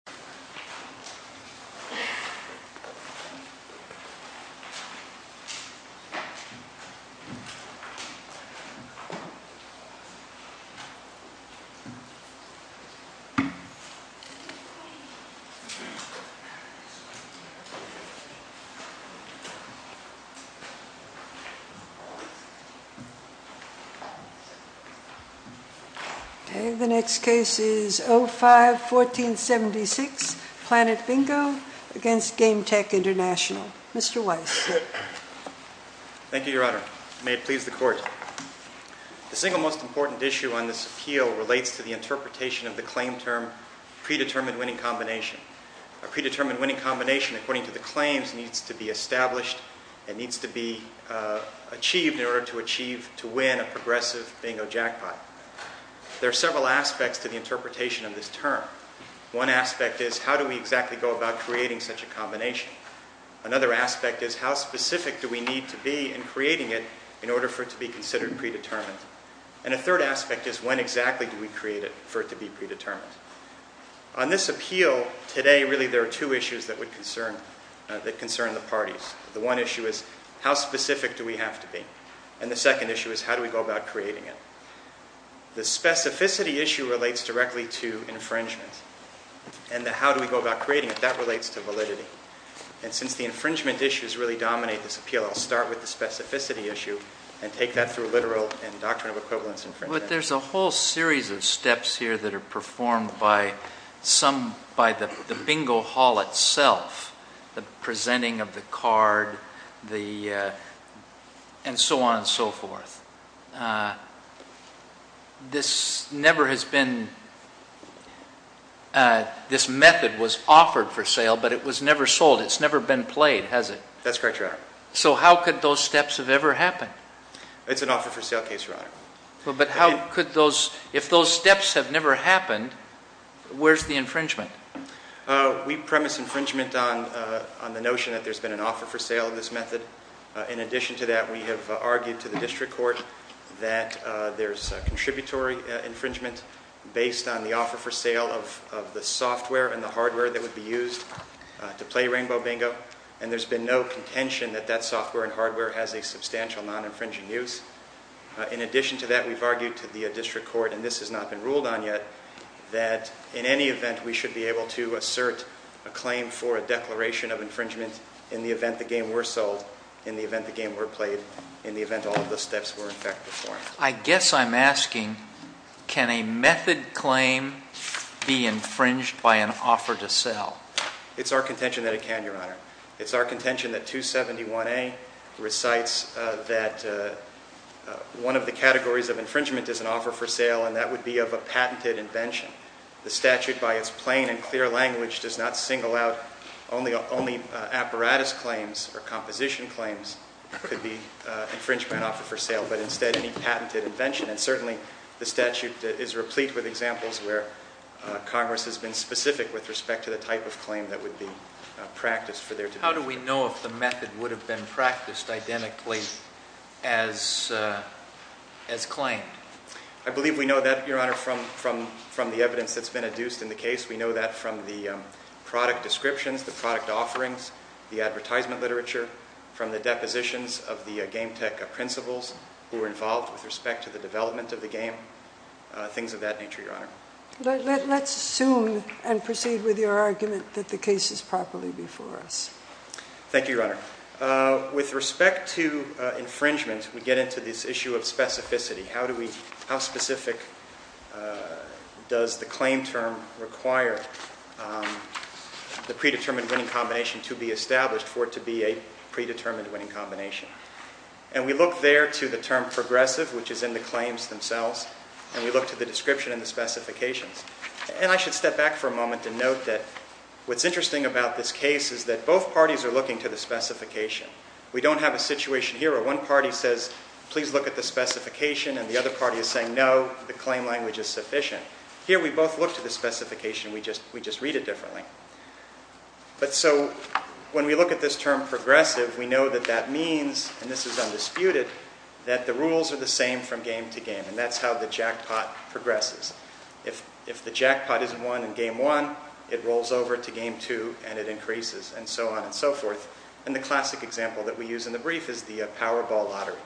Bingo Bingo Bingo Calendar The single most important issue on this appeal relates to the interpretation of the claim term, predetermined winning combination. A predetermined winning combination, according to the claims, needs to be established and needs to be achieved in order to achieve, to win a progressive bingo jackpot. There are several aspects to the interpretation of this term. One aspect is, how do we exactly go about creating such a combination? Another aspect is, how specific do we need to be in creating it in order for it to be considered predetermined? And a third aspect is, when exactly do we create it for it to be predetermined? On this appeal today, really there are two issues that concern the parties. The one issue is, how specific do we have to be? And the second issue is, how do we go about creating it? The specificity issue relates directly to infringement. And the how do we go about creating it, that relates to validity. And since the infringement issues really dominate this appeal, I'll start with the specificity issue and take that through literal and doctrine of equivalence infringement. But there's a whole series of steps here that are performed by some, by the bingo hall itself, the presenting of the card, and so on and so forth. This never has been, this method was offered for sale, but it was never sold. It's never been played, has it? That's correct, Your Honor. So how could those steps have ever happened? It's an offer for sale case, Your Honor. Well, but how could those, if those steps have never happened, where's the infringement? We premise infringement on the notion that there's been an offer for sale of this method. In addition to that, we have argued to the district court that there's a contributory infringement based on the offer for sale of the software and the hardware that would be used to play Rainbow Bingo. And there's been no contention that that software and hardware has a substantial non-infringing use. In addition to that, we've argued to the district court, and this has not been ruled on yet, that in any event we should be able to assert a claim for a declaration of infringement in the event the game were sold, in the event the game were played, in the event all of those steps were in fact performed. I guess I'm asking, can a method claim be infringed by an offer to sell? It's our contention that it can, Your Honor. It's our contention that 271A recites that one of the categories of infringement is an offer for sale, and that would be of a patented invention. The statute, by its plain and clear language, does not single out only apparatus claims or composition claims could be infringed by an offer for sale, but instead any patented invention. And certainly, the statute is replete with examples where Congress has been specific with respect to the type of claim that would be practiced for their- How do we know if the method would have been practiced identically as claimed? I believe we know that, Your Honor, from the evidence that's been adduced in the case. We know that from the product descriptions, the product offerings, the advertisement literature, from the depositions of the game tech principals who were involved with respect to the development of the game. Things of that nature, Your Honor. Let's assume and proceed with your argument that the case is properly before us. Thank you, Your Honor. With respect to infringement, we get into this issue of specificity. How specific does the claim term require the predetermined winning combination to be established for it to be a predetermined winning combination? And we look there to the term progressive, which is in the claims themselves, and we look to the description and the specifications. And I should step back for a moment and note that what's interesting about this case is that both parties are looking to the specification. We don't have a situation here where one party says, please look at the specification, and the other party is saying, no, the claim language is sufficient. Here we both look to the specification, we just read it differently. But so when we look at this term progressive, we know that that means, and this is undisputed, that the rules are the same from game to game, and that's how the jackpot progresses. If the jackpot isn't won in game one, it rolls over to game two, and it increases, and so on and so forth. And the classic example that we use in the brief is the Powerball Lottery,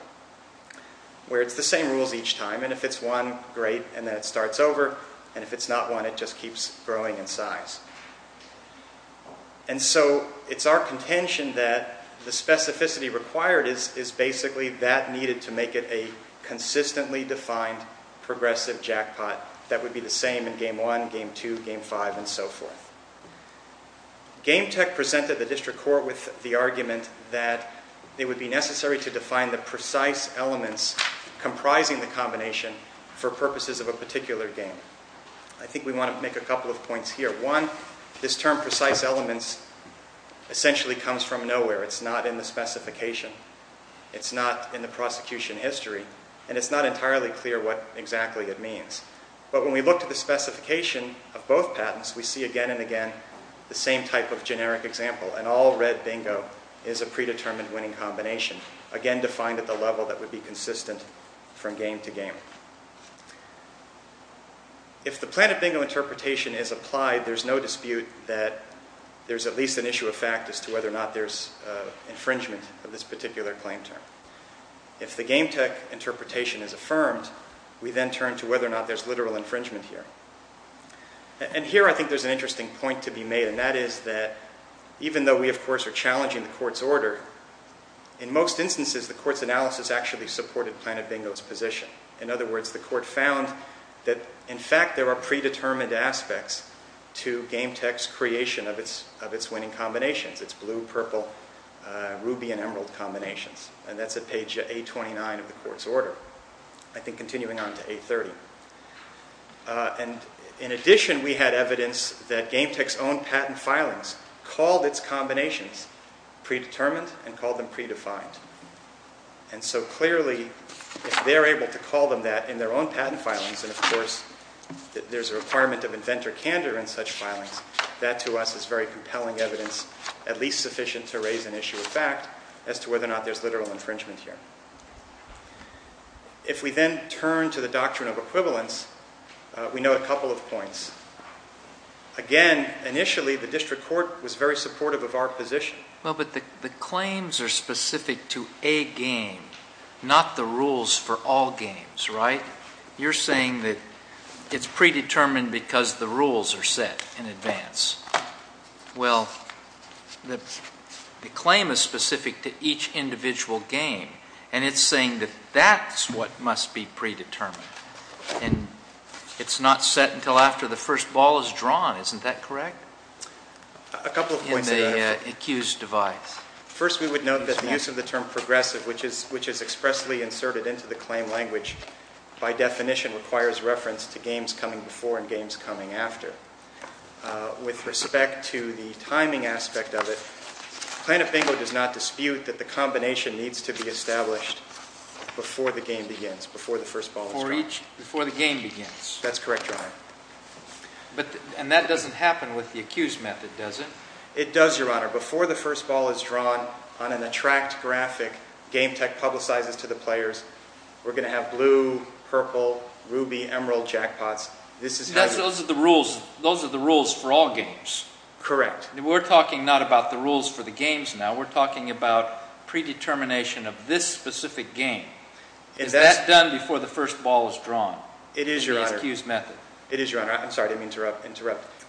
where it's the same rules each time. And if it's won, great, and then it starts over. And if it's not won, it just keeps growing in size. And so it's our contention that the specificity required is basically that needed to make it a consistently defined progressive jackpot that would be the same in game one, game two, game five, and so forth. Game Tech presented the district court with the argument that it would be necessary to define the precise elements comprising the combination for purposes of a particular game. I think we want to make a couple of points here. One, this term precise elements essentially comes from nowhere. It's not in the specification, it's not in the prosecution history, and it's not entirely clear what exactly it means. But when we look to the specification of both patents, we see again and again the same type of generic example. An all red bingo is a predetermined winning combination, again defined at the level that would be consistent from game to game. If the Planet Bingo interpretation is applied, there's no dispute that there's at least an issue of fact as to whether or not there's infringement of this particular claim term. If the Game Tech interpretation is affirmed, we then turn to whether or not there's literal infringement here. And here I think there's an interesting point to be made, and that is that even though we of course are challenging the court's order, in most instances the court's analysis actually supported Planet Bingo's position. In other words, the court found that in fact there are predetermined aspects to Game Tech's creation of its winning combinations, its blue, purple, ruby, and emerald combinations. And that's at page A29 of the court's order, I think continuing on to A30. And in addition, we had evidence that Game Tech's own patent filings called its combinations predetermined and called them predefined. And so clearly, if they're able to call them that in their own patent filings, and of course there's a requirement of inventor candor in such filings, that to us is very compelling evidence, at least sufficient to raise an issue of fact as to whether or not there's literal infringement here. If we then turn to the doctrine of equivalence, we know a couple of points. Again, initially the district court was very supportive of our position. Well, but the claims are specific to a game, not the rules for all games, right? You're saying that it's predetermined because the rules are set in advance. Well, the claim is specific to each individual game, and it's saying that that's what must be predetermined. And it's not set until after the first ball is drawn, isn't that correct? A couple of points that I have. In the accused device. First, we would note that the use of the term progressive, which is expressly inserted into the claim language, by definition requires reference to games coming before and games coming after. With respect to the timing aspect of it, Plano-Bingo does not dispute that the combination needs to be established before the game begins, before the first ball is drawn. Before the game begins? That's correct, Your Honor. And that doesn't happen with the accused method, does it? It does, Your Honor. Before the first ball is drawn on an attract graphic, Game Tech publicizes to the players, we're going to have blue, purple, ruby, emerald jackpots. Those are the rules for all games. Correct. We're talking not about the rules for the games now. We're talking about predetermination of this specific game. Is that done before the first ball is drawn? It is, Your Honor. In the accused method. It is, Your Honor. I'm sorry to interrupt.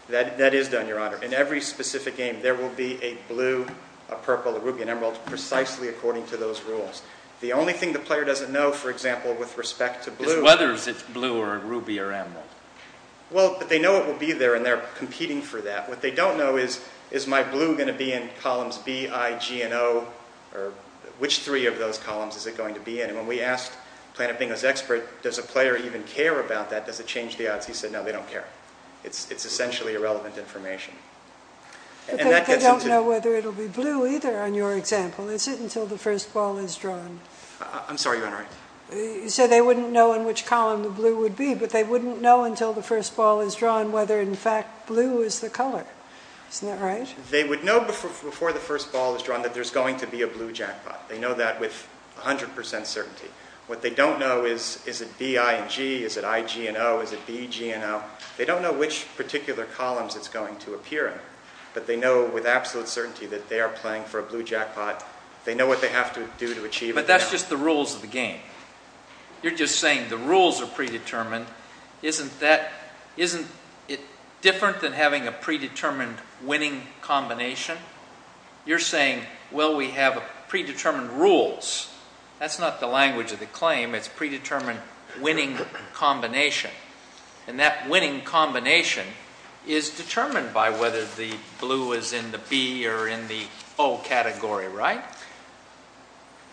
That is done, Your Honor. In every specific game, there will be a blue, a purple, a ruby, an emerald, precisely according to those rules. The only thing the player doesn't know, for example, with respect to blue... Is whether it's blue or ruby or emerald. Well, they know it will be there, and they're competing for that. What they don't know is, is my blue going to be in columns B, I, G, and O? Or which three of those columns is it going to be in? And when we asked Plano-Bingo's expert, does a player even care about that? Does it change the odds? He said, no, they don't care. It's essentially irrelevant information. But they don't know whether it will be blue either, on your example. Is it until the first ball is drawn? I'm sorry, Your Honor. You said they wouldn't know in which column the blue would be, but they wouldn't know until the first ball is drawn whether, in fact, blue is the color. Isn't that right? They would know before the first ball is drawn that there's going to be a blue jackpot. They know that with 100% certainty. What they don't know is, is it B, I, and G? Is it I, G, and O? Is it B, G, and O? They don't know which particular columns it's going to appear in, but they know with absolute certainty that they are playing for a blue jackpot. They know what they have to do to achieve it. But that's just the rules of the game. You're just saying the rules are predetermined. Isn't it different than having a predetermined winning combination? You're saying, well, we have predetermined rules. That's not the language of the claim. It's a predetermined winning combination. And that winning combination is determined by whether the blue is in the B or in the O category, right?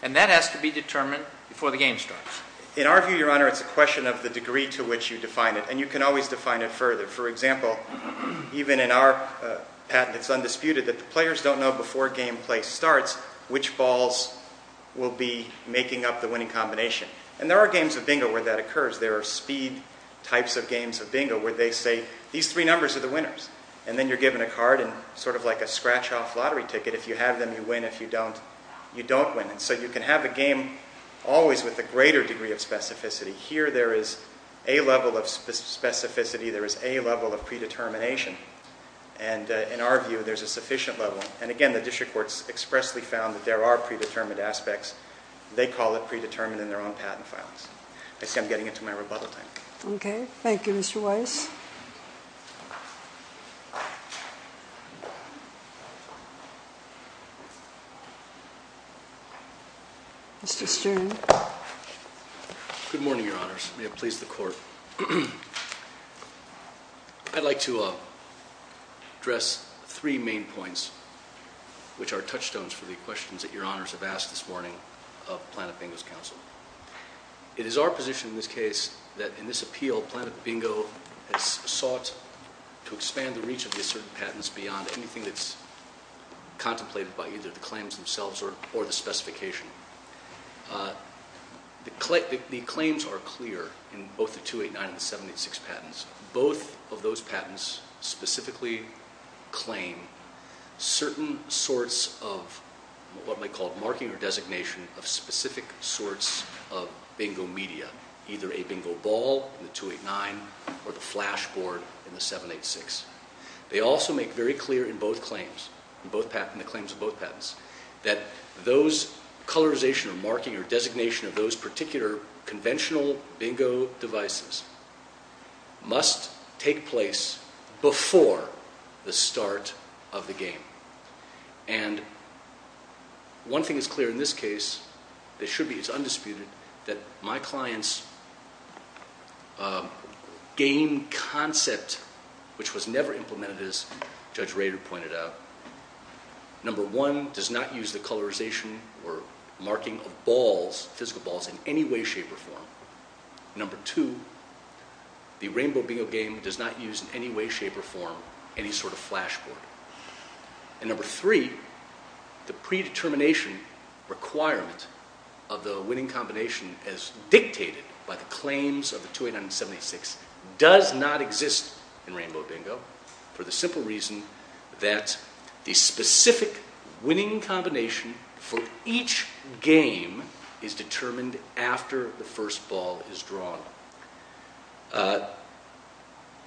And that has to be determined before the game starts. In our view, Your Honor, it's a question of the degree to which you define it. And you can always define it further. For example, even in our patent, it's undisputed that the players don't know before game play starts which balls will be making up the winning combination. And there are games of bingo where that occurs. There are speed types of games of bingo where they say these three numbers are the winners. And then you're given a card and sort of like a scratch-off lottery ticket. If you have them, you win. If you don't, you don't win. And so you can have a game always with a greater degree of specificity. Here there is a level of specificity. There is a level of predetermination. And in our view, there's a sufficient level. And, again, the district courts expressly found that there are predetermined aspects. They call it predetermined in their own patent files. I see I'm getting into my rebuttal time. Okay. Thank you, Mr. Weiss. Mr. Stern. Good morning, Your Honors. May it please the Court. I'd like to address three main points, which are touchstones for the questions that Your Honors have asked this morning of Planet Bingo's counsel. It is our position in this case that in this appeal, Planet Bingo has sought to expand the reach of the asserted patents beyond anything that's contemplated by either the claims themselves or the specification. The claims are clear in both the 289 and the 786 patents. Both of those patents specifically claim certain sorts of what they call marking or designation of specific sorts of bingo media, either a bingo ball in the 289 or the flash board in the 786. They also make very clear in both claims, in the claims of both patents, that those colorization or marking or designation of those particular conventional bingo devices must take place before the start of the game. And one thing is clear in this case, it should be, it's undisputed, that my client's game concept, which was never implemented as Judge Rader pointed out, number one, does not use the colorization or marking of balls, physical balls, in any way, shape, or form. Number two, the Rainbow Bingo game does not use in any way, shape, or form any sort of flash board. And number three, the predetermination requirement of the winning combination as dictated by the claims of the 289 and 786 does not exist in Rainbow Bingo for the simple reason that the specific winning combination for each game is determined after the first ball is drawn.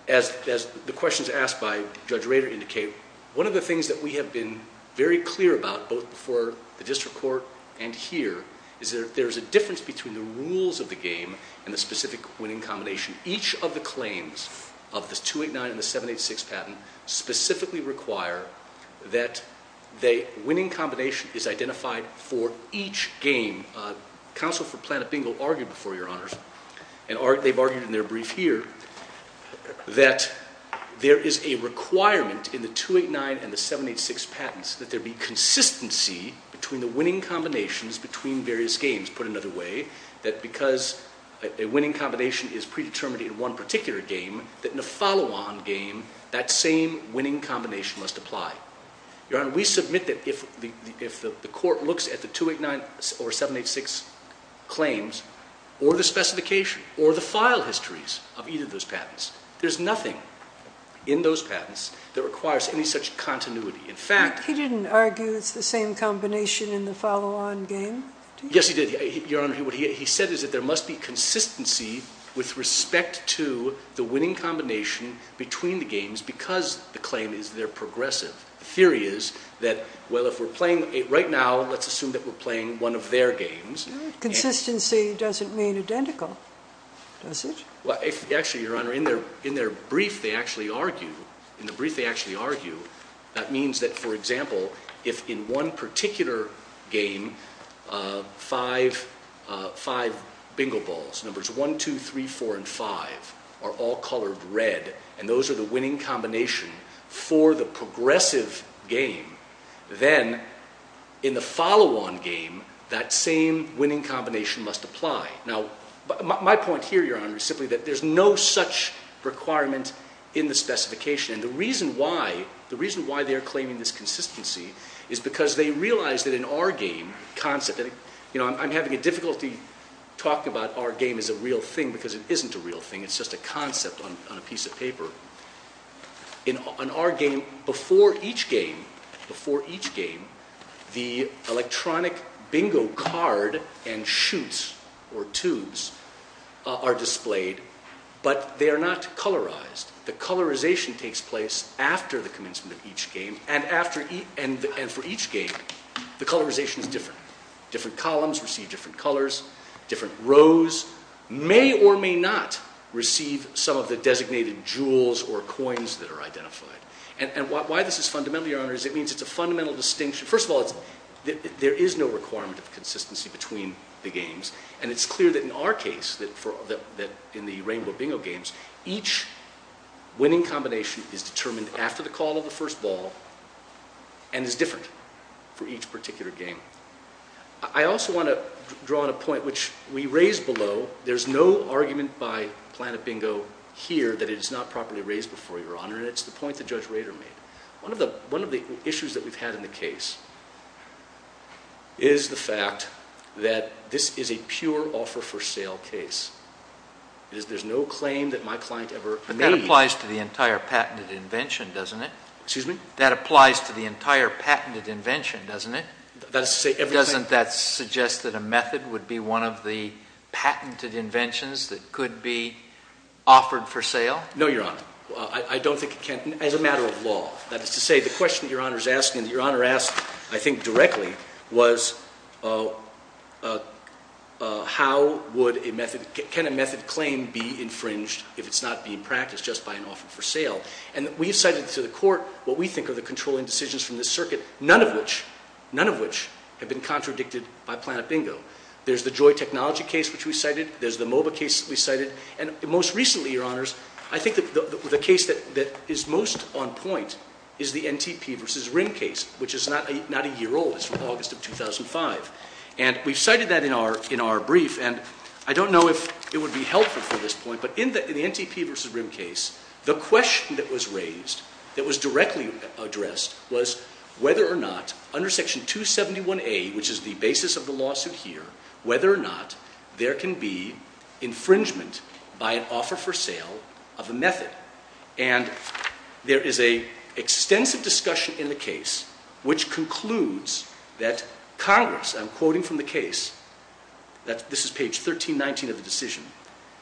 As the questions asked by Judge Rader indicate, one of the things that we have been very clear about, both before the district court and here, is that there's a difference between the rules of the game and the specific winning combination. Each of the claims of the 289 and the 786 patent specifically require that the winning combination is identified for each game. Counsel for Planet Bingo argued before, Your Honors, and they've argued in their brief here, that there is a requirement in the 289 and the 786 patents that there be consistency between the winning combinations between various games. He's put it another way, that because a winning combination is predetermined in one particular game, that in the follow-on game, that same winning combination must apply. Your Honor, we submit that if the court looks at the 289 or 786 claims, or the specification, or the file histories of either of those patents, there's nothing in those patents that requires any such continuity. In fact... He didn't argue it's the same combination in the follow-on game? Yes, he did. Your Honor, what he said is that there must be consistency with respect to the winning combination between the games, because the claim is that they're progressive. The theory is that, well, if we're playing... Right now, let's assume that we're playing one of their games... Consistency doesn't mean identical, does it? Well, actually, Your Honor, in their brief, they actually argue... That means that, for example, if in one particular game, five bingo balls, numbers 1, 2, 3, 4, and 5, are all colored red, and those are the winning combination for the progressive game, then in the follow-on game, that same winning combination must apply. Now, my point here, Your Honor, is simply that there's no such requirement in the specification. And the reason why they're claiming this consistency is because they realize that in our game, concept... You know, I'm having a difficulty talking about our game as a real thing, because it isn't a real thing. It's just a concept on a piece of paper. In our game, before each game, the electronic bingo card and shoots, or 2s, are displayed, but they are not colorized. The colorization takes place after the commencement of each game, and for each game, the colorization is different. Different columns receive different colors, different rows may or may not receive some of the designated jewels or coins that are identified. And why this is fundamental, Your Honor, is it means it's a fundamental distinction... First of all, there is no requirement of consistency between the games. And it's clear that in our case, that in the Rainbow Bingo games, each winning combination is determined after the call of the first ball, and is different for each particular game. I also want to draw on a point which we raised below. There's no argument by Planet Bingo here that it is not properly raised before, Your Honor, and it's the point that Judge Rader made. One of the issues that we've had in the case is the fact that this is a pure offer-for-sale case. There's no claim that my client ever made... But that applies to the entire patented invention, doesn't it? Excuse me? That applies to the entire patented invention, doesn't it? Doesn't that suggest that a method would be one of the patented inventions that could be offered for sale? No, Your Honor. I don't think it can, as a matter of law. That is to say, the question that Your Honor is asking, that Your Honor asked, I think, directly, was how would a method, can a method claim be infringed if it's not being practiced just by an offer-for-sale? And we have cited to the court what we think are the controlling decisions from this circuit, none of which, none of which have been contradicted by Planet Bingo. There's the Joy Technology case which we cited. There's the MOBA case we cited. And most recently, Your Honors, I think the case that is most on point is the NTP v. Rim case, which is not a year old. It's from August of 2005. And we've cited that in our brief, and I don't know if it would be helpful for this point, but in the NTP v. Rim case, the question that was raised, that was directly addressed, was whether or not under Section 271A, which is the basis of the lawsuit here, whether or not there can be infringement by an offer-for-sale of a method. And there is an extensive discussion in the case which concludes that Congress, I'm quoting from the case, this is page 1319 of the decision,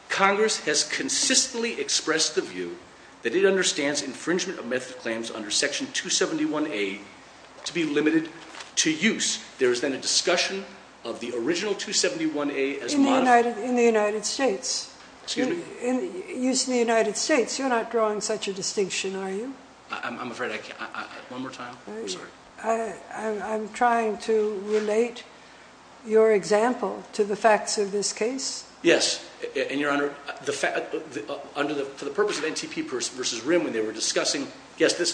Congress has consistently expressed the view that it understands infringement of method claims under Section 271A to be limited to use. There is then a discussion of the original 271A as modified. In the United States. Excuse me? Use in the United States. You're not drawing such a distinction, are you? I'm afraid I can't. One more time. I'm sorry. I'm trying to relate your example to the facts of this case. Yes. And, Your Honor, for the purpose of NTP v. Rim when they were discussing, yes, this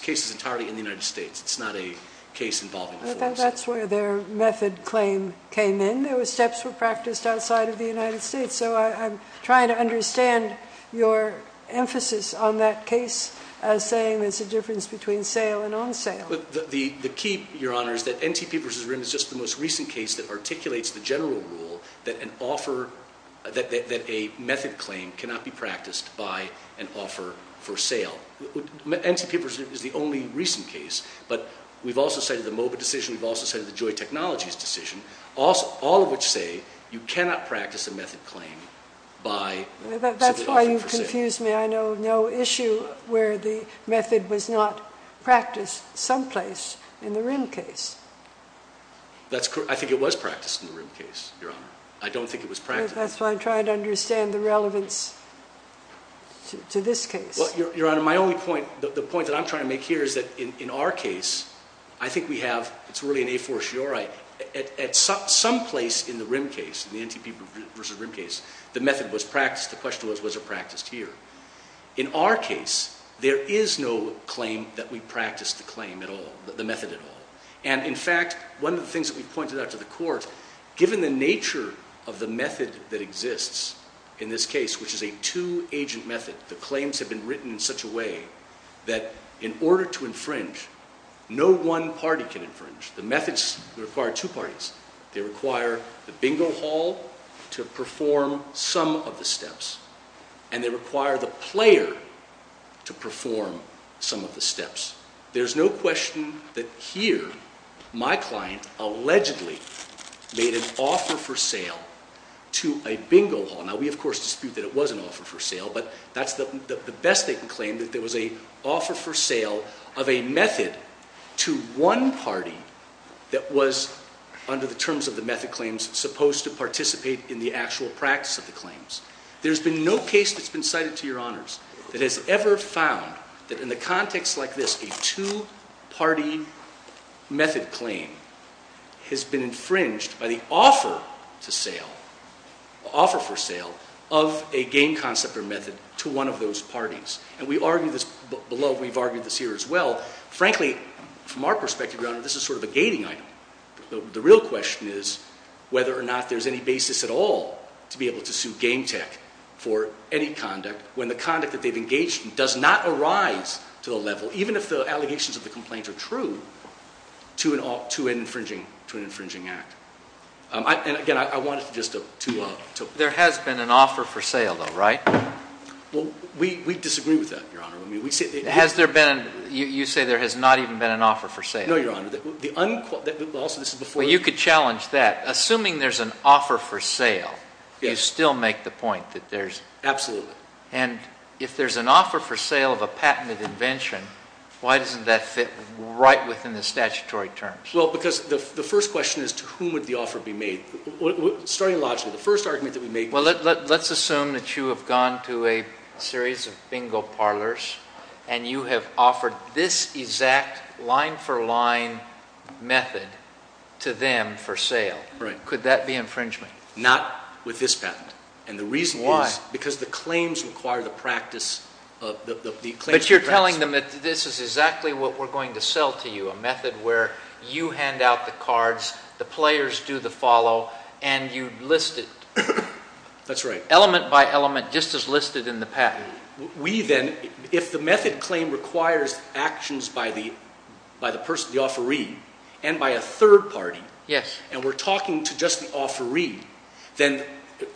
case is entirely in the United States. It's not a case involving a force. That's where their method claim came in. Those steps were practiced outside of the United States. So I'm trying to understand your emphasis on that case as saying there's a difference between sale and on sale. The key, Your Honor, is that NTP v. Rim is just the most recent case that articulates the general rule that an offer, that a method claim cannot be practiced by an offer-for-sale. NTP v. Rim is the only recent case, but we've also cited the MOBA decision. We've also cited the Joy Technologies decision, all of which say you cannot practice a method claim by an offer-for-sale. That's why you confuse me. I know no issue where the method was not practiced someplace in the Rim case. That's correct. I think it was practiced in the Rim case, Your Honor. I don't think it was practiced. That's why I'm trying to understand the relevance to this case. Well, Your Honor, my only point, the point that I'm trying to make here is that in our case, I think we have, it's really an a fortiori, at some place in the Rim case, the NTP v. Rim case, the method was practiced. The question was, was it practiced here? In our case, there is no claim that we practiced the claim at all, the method at all. And, in fact, one of the things that we pointed out to the court, given the nature of the method that exists in this case, which is a two-agent method, the claims have been written in such a way that in order to infringe, no one party can infringe. The methods require two parties. They require the bingo hall to perform some of the steps, and they require the player to perform some of the steps. There's no question that here, my client allegedly made an offer-for-sale to a bingo hall. Now, we, of course, dispute that it was an offer-for-sale, but that's the best they can claim, that there was an offer-for-sale of a method to one party that was, under the terms of the method claims, supposed to participate in the actual practice of the claims. There's been no case that's been cited to Your Honors that has ever found that in a context like this, a two-party method claim has been infringed by the offer-for-sale of a game concept or method to one of those parties. And we've argued this here as well. Frankly, from our perspective, Your Honor, this is sort of a gating item. The real question is whether or not there's any basis at all to be able to sue Game Tech for any conduct when the conduct that they've engaged in does not arise to the level, even if the allegations of the complaint are true, to an infringing act. And, again, I wanted to just to— There has been an offer-for-sale, though, right? Well, we disagree with that, Your Honor. Has there been—you say there has not even been an offer-for-sale. No, Your Honor. Also, this is before— Well, you could challenge that. Assuming there's an offer-for-sale, you still make the point that there's— Absolutely. And if there's an offer-for-sale of a patented invention, why doesn't that fit right within the statutory terms? Well, because the first question is to whom would the offer be made? Starting logically, the first argument that we make— Well, let's assume that you have gone to a series of bingo parlors, and you have offered this exact line-for-line method to them for sale. Right. Could that be infringement? Not with this patent. And the reason is because the claims require the practice of— But you're telling them that this is exactly what we're going to sell to you, a method where you hand out the cards, the players do the follow, and you list it. That's right. Element by element, just as listed in the patent. We then—if the method claim requires actions by the person, the offeree, and by a third party, and we're talking to just the offeree, then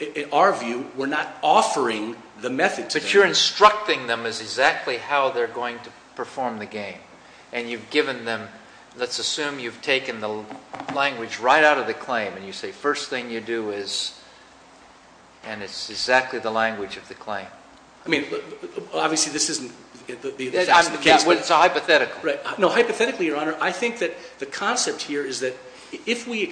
in our view, we're not offering the method to them. But you're instructing them as exactly how they're going to perform the game. And you've given them—let's assume you've taken the language right out of the claim, and you say, first thing you do is—and it's exactly the language of the claim. I mean, obviously this isn't the exact case, but— It's a hypothetical. Right. No, hypothetically, Your Honor, I think that the concept here is that if we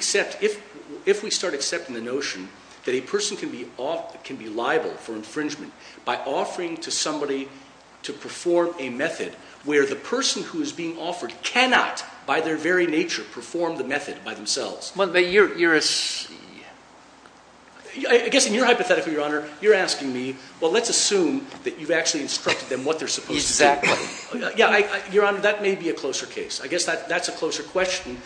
start accepting the notion that a person can be liable for infringement by offering to somebody to perform a method where the person who is being offered cannot, by their very nature, perform the method by themselves. But you're— I guess in your hypothetical, Your Honor, you're asking me, well, let's assume that you've actually instructed them what they're supposed to do. Exactly. Yeah, Your Honor, that may be a closer case. I guess that's a closer question.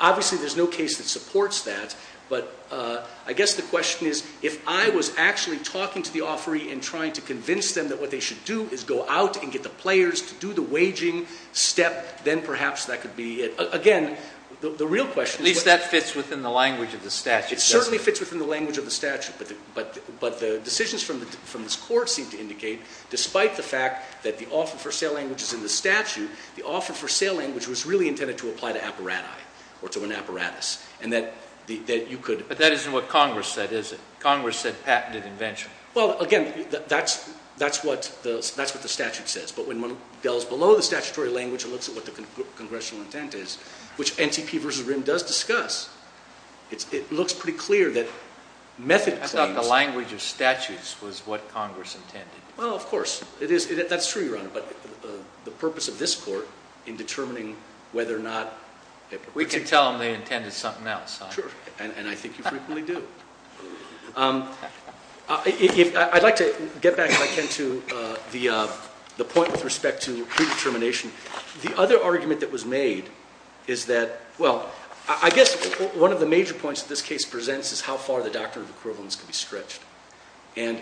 Obviously, there's no case that supports that. But I guess the question is, if I was actually talking to the offeree and trying to convince them that what they should do is go out and get the players to do the waging step, then perhaps that could be it. Again, the real question is— At least that fits within the language of the statute, doesn't it? It certainly fits within the language of the statute. But the decisions from this Court seem to indicate, despite the fact that the offer for sale language is in the statute, the offer for sale language was really intended to apply to apparati or to an apparatus, and that you could— But that isn't what Congress said, is it? Congress said patented invention. Well, again, that's what the statute says. But when one delves below the statutory language and looks at what the congressional intent is, which NTP v. RIM does discuss, it looks pretty clear that method claims— I thought the language of statutes was what Congress intended. Well, of course. That's true, Your Honor. But the purpose of this Court in determining whether or not— We can tell them they intended something else, huh? Sure. And I think you frequently do. I'd like to get back, if I can, to the point with respect to predetermination. The other argument that was made is that— Well, I guess one of the major points that this case presents is how far the doctrine of equivalence can be stretched. And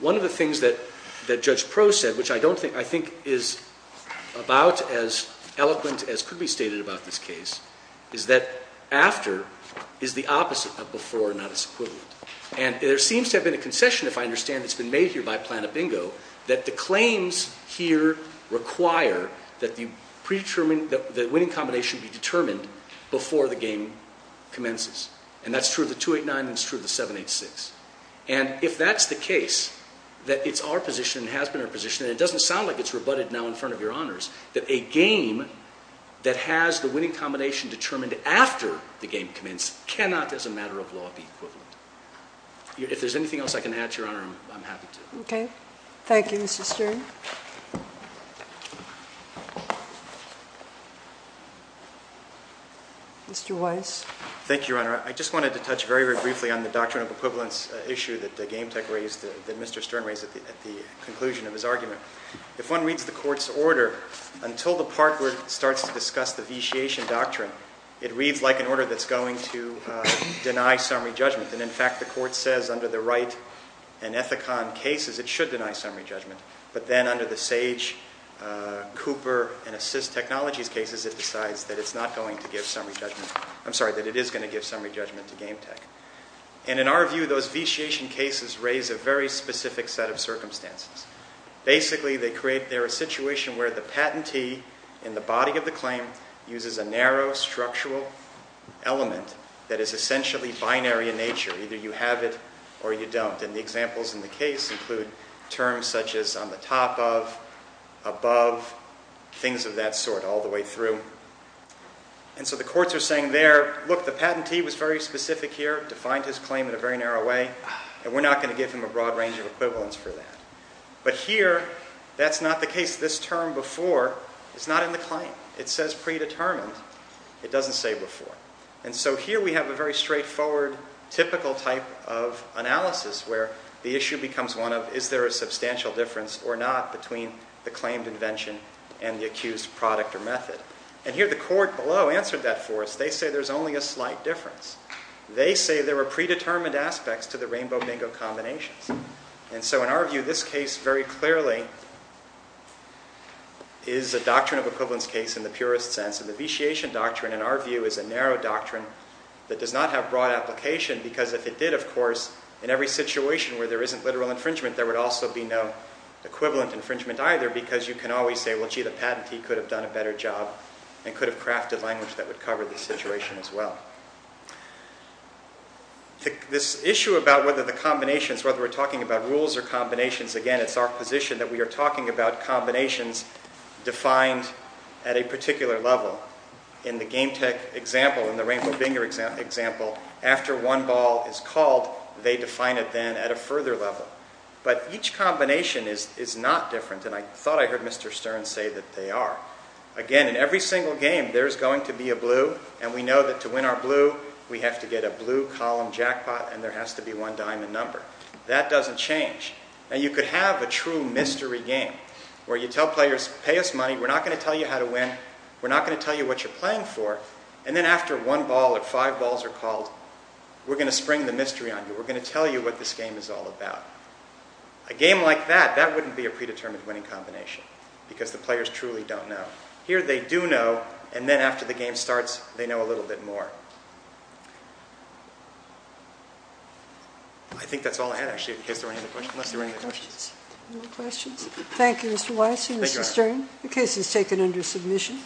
one of the things that Judge Proh said, which I think is about as eloquent as could be stated about this case, is that after is the opposite of before, not its equivalent. And there seems to have been a concession, if I understand, that's been made here by Plano-Bingo, that the claims here require that the winning combination be determined before the game commences. And that's true of the 289 and it's true of the 786. And if that's the case, that it's our position and has been our position, and it doesn't sound like it's rebutted now in front of Your Honors, that a game that has the winning combination determined after the game commences cannot, as a matter of law, be equivalent. If there's anything else I can add to Your Honor, I'm happy to. Okay. Thank you, Mr. Stern. Mr. Weiss. Thank you, Your Honor. I just wanted to touch very, very briefly on the doctrine of equivalence issue that Mr. Stern raised at the conclusion of his argument. If one reads the Court's order, until the part where it starts to discuss the Vitiation Doctrine, it reads like an order that's going to deny summary judgment. And in fact, the Court says under the Wright and Ethicon cases, it should deny summary judgment. But then under the Sage, Cooper, and Assist Technologies cases, it decides that it's not going to give summary judgment. I'm sorry, that it is going to give summary judgment to Game Tech. And in our view, those Vitiation cases raise a very specific set of circumstances. Basically, they create there a situation where the patentee in the body of the claim uses a narrow structural element that is essentially binary in nature. Either you have it or you don't. And the examples in the case include terms such as on the top of, above, things of that sort all the way through. And so the courts are saying there, look, the patentee was very specific here, defined his claim in a very narrow way, and we're not going to give him a broad range of equivalents for that. But here, that's not the case. This term before is not in the claim. It says predetermined. It doesn't say before. And so here we have a very straightforward, typical type of analysis where the issue becomes one of, is there a substantial difference or not between the claimed invention and the accused product or method? And here the court below answered that for us. They say there's only a slight difference. They say there are predetermined aspects to the rainbow mango combinations. And so in our view, this case very clearly is a doctrine of equivalence case in the purest sense. And the vitiation doctrine, in our view, is a narrow doctrine that does not have broad application because if it did, of course, in every situation where there isn't literal infringement, there would also be no equivalent infringement either because you can always say, well, gee, the patentee could have done a better job and could have crafted language that would cover the situation as well. This issue about whether the combinations, whether we're talking about rules or combinations, again, it's our position that we are talking about combinations defined at a particular level. In the Game Tech example, in the Rainbow Binger example, after one ball is called, they define it then at a further level. But each combination is not different, and I thought I heard Mr. Stern say that they are. Again, in every single game, there's going to be a blue, and we know that to win our blue, we have to get a blue column jackpot, and there has to be one diamond number. That doesn't change. Now, you could have a true mystery game where you tell players, pay us money, we're not going to tell you how to win, we're not going to tell you what you're playing for, and then after one ball or five balls are called, we're going to spring the mystery on you. We're going to tell you what this game is all about. A game like that, that wouldn't be a predetermined winning combination, because the players truly don't know. Here, they do know, and then after the game starts, they know a little bit more. I think that's all I had, actually, in case there were any other questions. Any questions? Thank you, Mr. Weiss and Mr. Stern. The case is taken under submission.